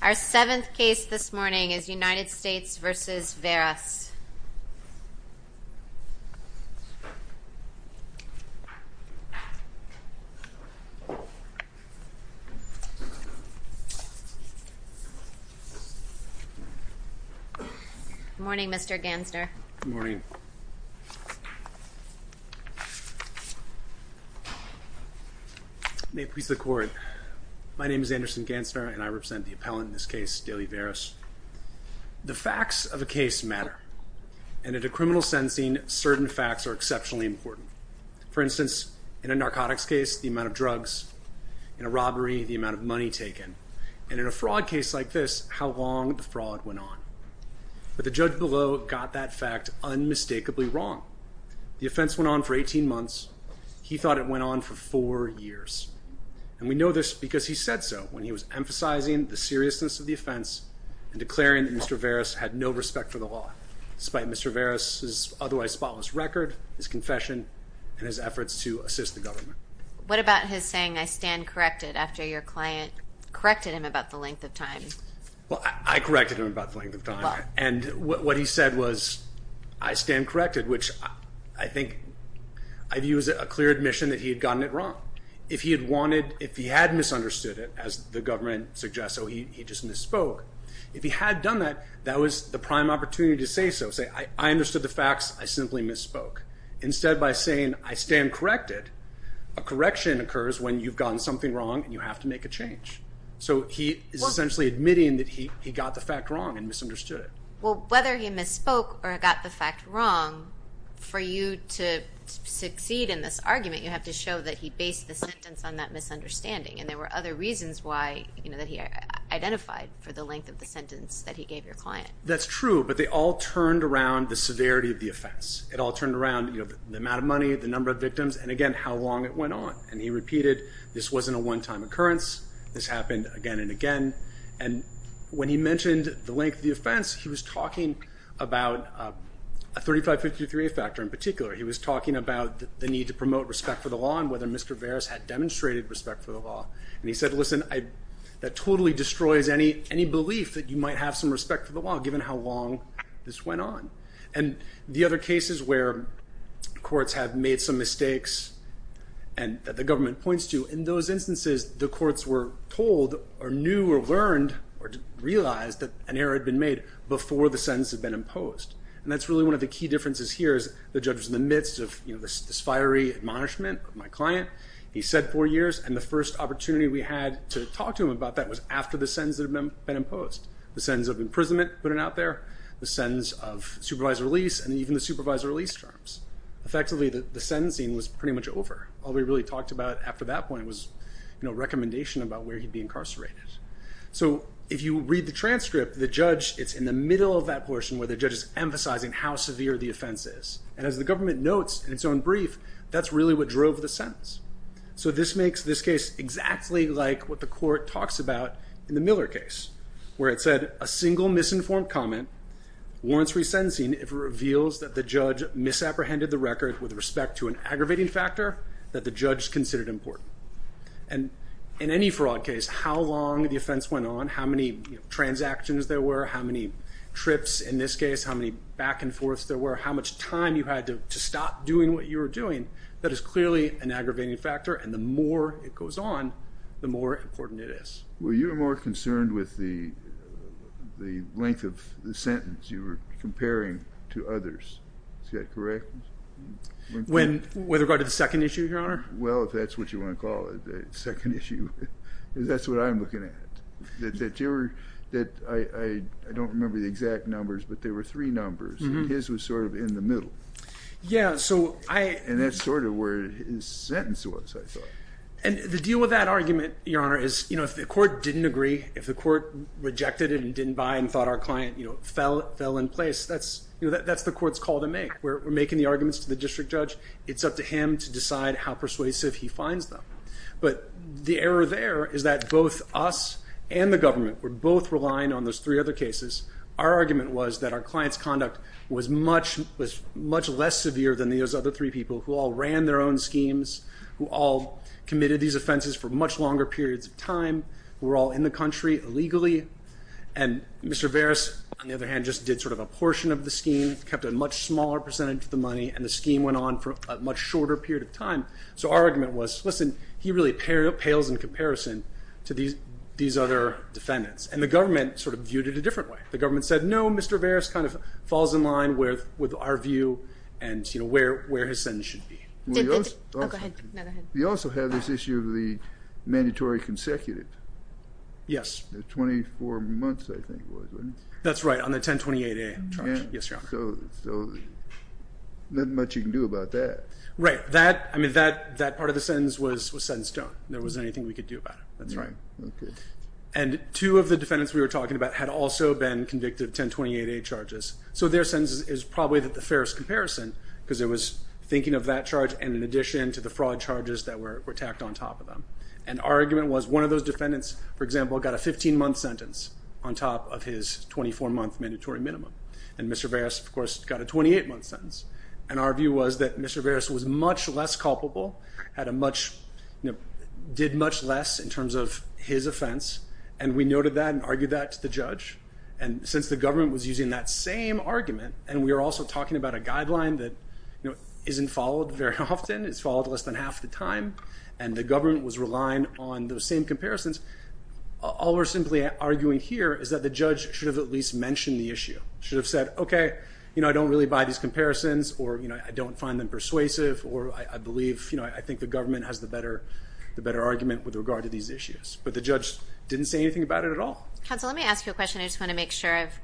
Our seventh case this morning is United States v. Veras Good morning Mr. Gansner. Good morning. May it please the court, my name is Anderson Gansner and I represent the appellant in this case, Deily Veras. The facts of a case matter and at a criminal sentencing certain facts are exceptionally important. For instance, in a narcotics case the amount of drugs, in a robbery the amount of money taken, and in a fraud case like this how long the fraud went on. But the judge below got that fact unmistakably wrong. The offense went on for 18 months, he thought it went on for four years. And we know this because he said so when he was emphasizing the seriousness of the offense and declaring that Mr. Veras had no respect for the law, despite Mr. Veras's otherwise spotless record, his confession, and his efforts to assist the government. What about his saying I stand corrected after your client corrected him about the length of time? Well I said was I stand corrected which I think I'd use a clear admission that he had gotten it wrong. If he had wanted, if he had misunderstood it as the government suggests, so he just misspoke. If he had done that, that was the prime opportunity to say so. Say I understood the facts, I simply misspoke. Instead by saying I stand corrected, a correction occurs when you've gotten something wrong and you have to make a change. So he is essentially admitting that he he got the fact wrong. For you to succeed in this argument you have to show that he based the sentence on that misunderstanding and there were other reasons why you know that he identified for the length of the sentence that he gave your client. That's true but they all turned around the severity of the offense. It all turned around you know the amount of money, the number of victims, and again how long it went on. And he repeated this wasn't a one-time occurrence, this happened again and again. And when he mentioned the length of the offense he was talking about a 3553A factor in particular. He was talking about the need to promote respect for the law and whether Mr. Veras had demonstrated respect for the law. And he said listen I that totally destroys any any belief that you might have some respect for the law given how long this went on. And the other cases where courts have made some mistakes and that the government points to, in those cases, they knew or learned or realized that an error had been made before the sentence had been imposed. And that's really one of the key differences here is the judge was in the midst of you know this fiery admonishment of my client. He said four years and the first opportunity we had to talk to him about that was after the sentence had been imposed. The sentence of imprisonment put it out there, the sentence of supervised release, and even the supervised release terms. Effectively the sentencing was pretty much over. All we really talked about after that point was you know recommendation about where he'd be incarcerated. So if you read the transcript the judge it's in the middle of that portion where the judge is emphasizing how severe the offense is. And as the government notes in its own brief that's really what drove the sentence. So this makes this case exactly like what the court talks about in the Miller case where it said a single misinformed comment warrants resentencing if it reveals that the judge misapprehended the record with respect to an aggravating factor that the judge considered important. And in any fraud case how long the offense went on, how many transactions there were, how many trips in this case, how many back-and-forths there were, how much time you had to stop doing what you were doing, that is clearly an aggravating factor and the more it goes on the more important it is. Well you're more concerned with the the length of the sentence you were comparing to others. Is that correct? When with regard to the second issue your honor? Well if that's what you want to call it, the second issue, that's what I'm looking at. I don't remember the exact numbers but there were three numbers and his was sort of in the middle. Yeah so I... And that's sort of where his sentence was I thought. And the deal with that argument your honor is you know if the court didn't agree, if the court rejected it and didn't buy and thought our client you know fell fell in place that's you know that's the court's call to make. We're making the arguments to the district judge it's up to him to decide how persuasive he finds them. But the error there is that both us and the government were both relying on those three other cases. Our argument was that our clients conduct was much was much less severe than those other three people who all ran their own schemes, who all committed these offenses for much longer periods of time, were all in the country illegally and Mr. Veras on the other hand just did sort of a portion of the scheme, kept a much smaller percentage of the money and the scheme went on for a much shorter period of time. So our argument was listen he really pales in comparison to these these other defendants. And the government sort of viewed it a different way. The government said no Mr. Veras kind of falls in line with with our view and you know where where his sentence should be. We also have this issue of the mandatory consecutive. Yes. The 24 months I think was. That's right on the 1028A. Yes your honor. So not much you can do about that. Right that I mean that that part of the sentence was was set in stone. There wasn't anything we could do about it. That's right. Okay. And two of the defendants we were talking about had also been convicted of 1028A charges. So their sentence is probably that the fairest comparison because it was thinking of that charge and in addition to the fraud charges that were attacked on top of them. And our argument was one of those defendants for example got a 15 month sentence on top of his 24 month mandatory minimum. And Mr. Veras of course got a 28 month sentence. And our view was that Mr. Veras was much less culpable. Had a much you know did much less in terms of his offense. And we noted that and argued that to the judge. And since the government was using that same argument and we are also talking about a guideline that you know isn't followed very often. It's followed less than half the time. And the government was relying on those same comparisons. All we're simply arguing here is that the judge should have at least mentioned the issue. Should have said okay you know I don't really buy these comparisons. Or you know I don't find them persuasive. Or I believe you know I think the government has the better the better argument with regard to these issues. But the judge didn't say anything about it at all. Counsel let me ask you a question. I just want to make sure I've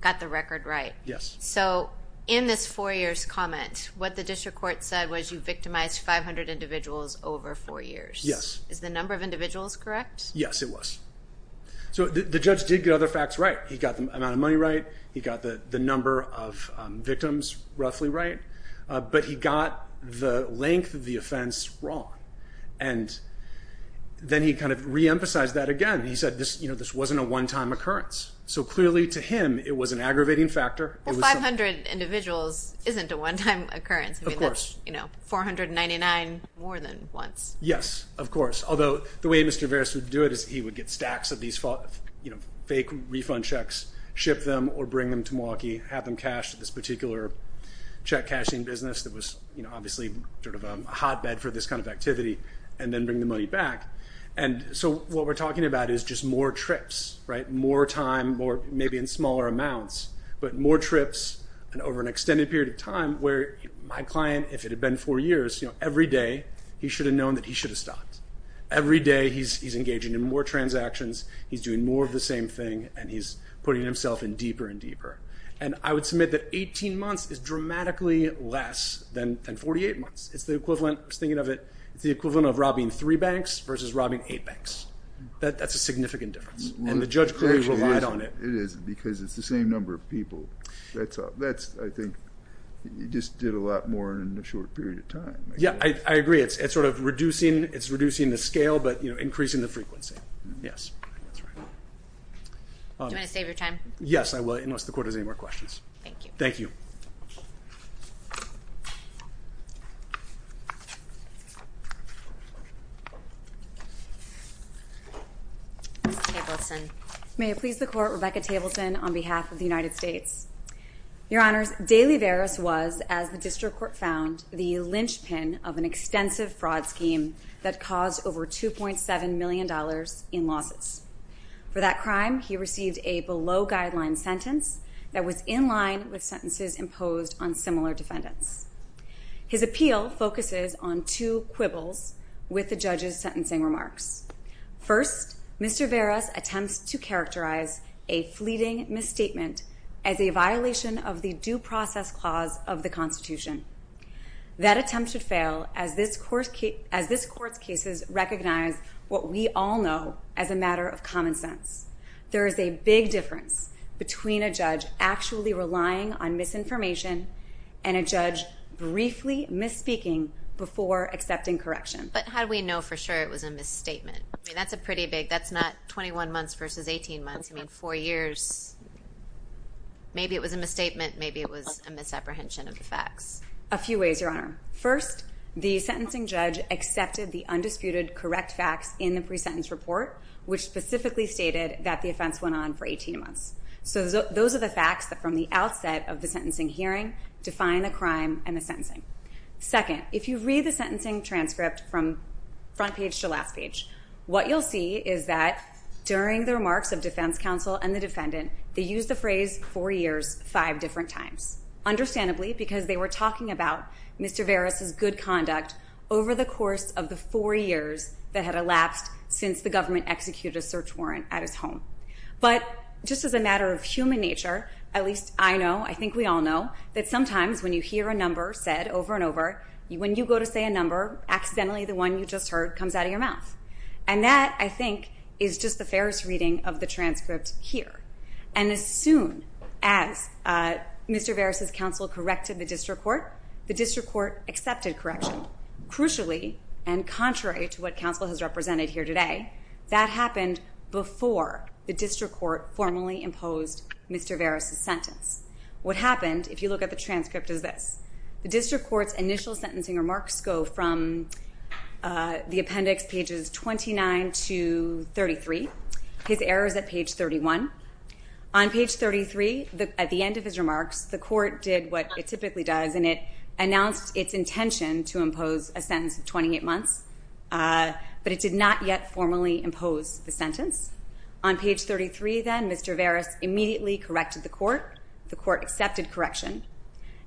got the record right. Yes. So in this four years comment what the district court said was you victimized 500 individuals over four years. Yes. Is the number of individuals correct? Yes it was. So the judge did get other facts right. He got the amount of money right. He got the the number of victims roughly right. But he got the length of the offense wrong. And then he kind of re-emphasized that again. He said this you know this wasn't a one-time occurrence. So clearly to him it was an aggravating factor. 500 individuals isn't a one-time occurrence. Of course. You know 499 more than once. Yes of course. Although the way Mr. Veras would do it is he would get stacks of these false you know fake refund checks. Ship them or bring them to Milwaukee. Have them cashed at this particular check cashing business that was you know obviously sort of a hotbed for this kind of activity. And then bring the money back. And so what we're talking about is just more trips right. More time more maybe in smaller amounts. But more trips and over an extended period of time where my client if it had been four years you know every day he should have known that he should have stopped. Every day he's engaging in more transactions. He's doing more of the same thing. And he's putting himself in deeper and deeper. And I would submit that 18 months is dramatically less than 48 months. It's the equivalent. I was thinking of it. It's the equivalent of robbing three banks versus robbing eight banks. That's a significant difference. And the judge relied on it. It is because it's the same number of people. That's I think you just did a lot more in a short period of time. Yeah I agree it's sort of reducing it's reducing the scale but you know increasing the frequency. Yes. Do you want to save your time? Yes I will unless the court has any more questions. Thank you. Thank you. Ms. Tableson. May it please the court Rebecca Tableson on behalf of the United States. Your Honors, DeLiveris was as the district court found the linchpin of an extensive fraud scheme that caused over 2.7 million dollars in losses. For that crime he received a below-guideline sentence that was in line with sentences imposed on similar defendants. His appeal focuses on two quibbles with the judge's sentencing remarks. First Mr. Veras attempts to characterize a fleeting misstatement as a violation of the due process clause of the Constitution. That attempt should fail as this court's cases recognize what we all know as a matter of common sense. There is a big difference between a judge actually relying on misinformation and a judge briefly misspeaking before accepting correction. But how do we know for sure it was a misstatement? That's a pretty big that's not 21 months versus 18 months I mean four years maybe it was a misstatement maybe it was a misapprehension of the facts. A few ways Your Honor. First the sentencing judge accepted the undisputed correct facts in the pre-sentence report which specifically stated that the offense went on for 18 months. So those are the facts that from the outset of the sentencing hearing define the crime and the sentencing. Second if you read the sentencing transcript from front page to last page what you'll see is that during the remarks of defense counsel and the defendant they use the phrase four years five different times. Understandably because they were talking about Mr. Veras' good conduct over the course of the four years that had elapsed since the government executed a crime at his home. But just as a matter of human nature at least I know I think we all know that sometimes when you hear a number said over and over you when you go to say a number accidentally the one you just heard comes out of your mouth. And that I think is just the fairest reading of the transcript here. And as soon as Mr. Veras' counsel corrected the district court the district court accepted correction. Crucially and contrary to what counsel has before the district court formally imposed Mr. Veras' sentence. What happened if you look at the transcript is this. The district court's initial sentencing remarks go from the appendix pages 29 to 33. His errors at page 31. On page 33 at the end of his remarks the court did what it typically does and it announced its intention to impose a sentence of 28 months. But it did not yet formally impose the sentence. On page 33 then Mr. Veras immediately corrected the court. The court accepted correction.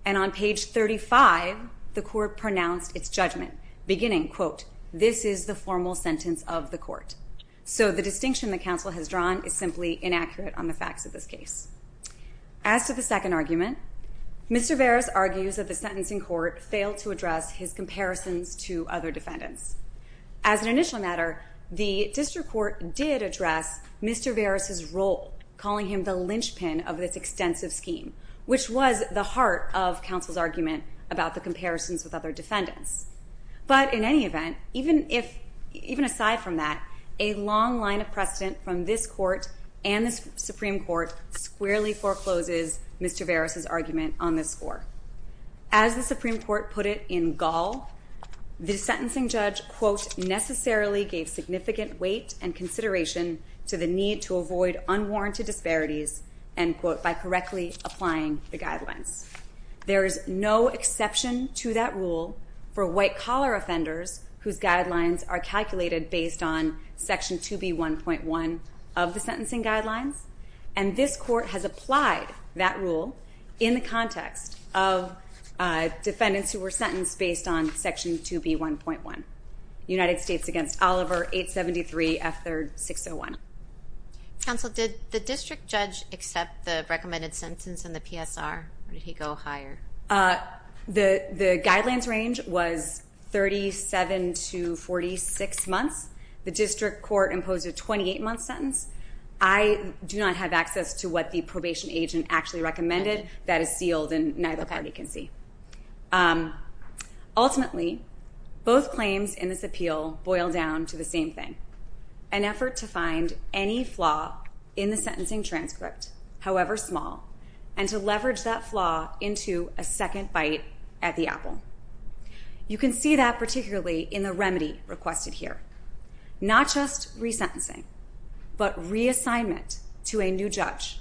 And on page 35 the court pronounced its judgment beginning quote this is the formal sentence of the court. So the distinction that counsel has drawn is simply inaccurate on the facts of this case. As to the second argument Mr. Veras argues that the sentencing court failed to address his comparisons to other defendants. As an initial matter the district court did address Mr. Veras' role calling him the linchpin of this extensive scheme which was the heart of counsel's argument about the comparisons with other defendants. But in any event even if even aside from that a long line of precedent from this court and the Supreme Court squarely forecloses Mr. Veras' argument on this court. As the Supreme Court put it in Gaul the sentencing judge quote necessarily gave significant weight and consideration to the need to avoid unwarranted disparities and quote by correctly applying the guidelines. There is no exception to that rule for white-collar offenders whose guidelines are calculated based on section 2b 1.1 of the sentencing guidelines. And this of defendants who were sentenced based on section 2b 1.1 United States against Oliver 873 F 3rd 601. Counsel did the district judge accept the recommended sentence in the PSR or did he go higher? The the guidelines range was 37 to 46 months. The district court imposed a 28 month sentence. I do not have access to what the probation agent actually recommended that is sealed and neither party can see. Ultimately both claims in this appeal boil down to the same thing. An effort to find any flaw in the sentencing transcript however small and to leverage that flaw into a second bite at the apple. You can see that particularly in the remedy requested here. Not just resentencing but reassignment to a new judge.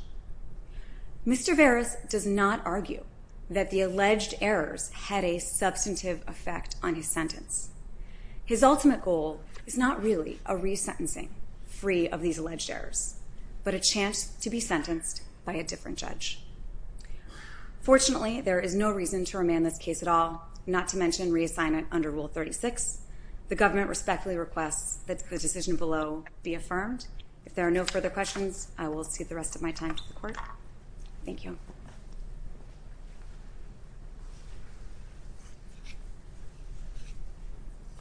Mr. Veras does not argue that the alleged errors had a substantive effect on his sentence. His ultimate goal is not really a resentencing free of these alleged errors but a chance to be sentenced by a different judge. Fortunately there is no reason to remand this case at all not to mention reassignment under rule 36. The government respectfully requests that the decision below be affirmed. If there are no further questions I will see the rest of my time to the court. Thank you.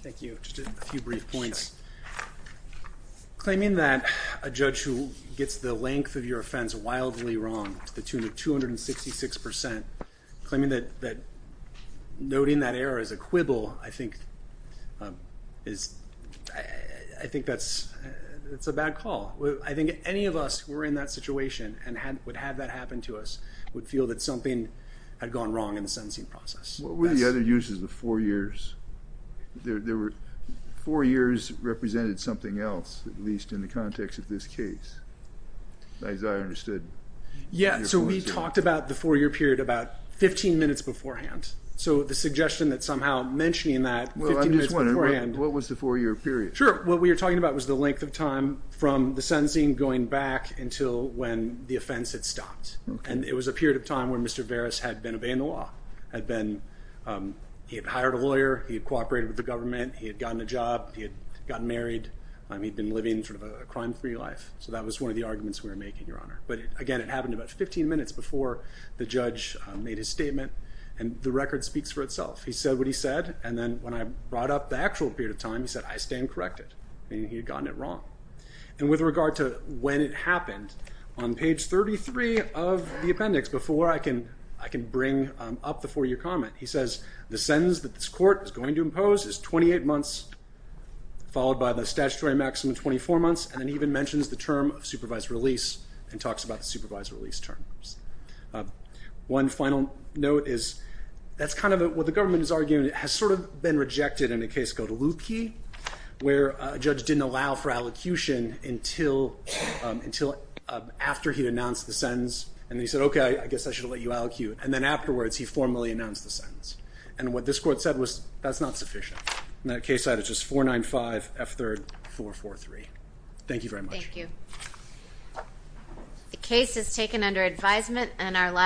Thank you. Just a few brief points. Claiming that a judge who gets the length of your offense wildly wrong to the tune of 266 percent, claiming that that noting that error is a quibble, I think that's a bad call. I think any of us who were in that situation and would have that happen to us would feel that something had gone wrong in the sentencing process. What were the other uses of four years? Four years represented something else at least in the context of this case as I understood. Yeah so we talked about the four-year minutes beforehand. So the suggestion that somehow mentioning that. Well I'm just wondering what was the four-year period? Sure what we were talking about was the length of time from the sentencing going back until when the offense had stopped. And it was a period of time where Mr. Veras had been obeying the law. He had hired a lawyer, he had cooperated with the government, he had gotten a job, he had gotten married, he'd been living sort of a crime-free life. So that was one of the arguments we were making Your Honor. But again it happened about 15 minutes before the judge made his statement and the record speaks for itself. He said what he said and then when I brought up the actual period of time he said I stand corrected. He had gotten it wrong. And with regard to when it happened, on page 33 of the appendix before I can bring up the four-year comment, he says the sentence that this court is going to impose is 28 months followed by the statutory maximum 24 months and then mentions the term of supervised release and talks about the supervised release terms. One final note is that's kind of what the government is arguing it has sort of been rejected in a case called Loopkey where a judge didn't allow for allocution until after he announced the sentence and he said okay I guess I should let you allocute and then afterwards he formally announced the sentence. And what this court said was that's not sufficient. And that case is taken under advisement and our last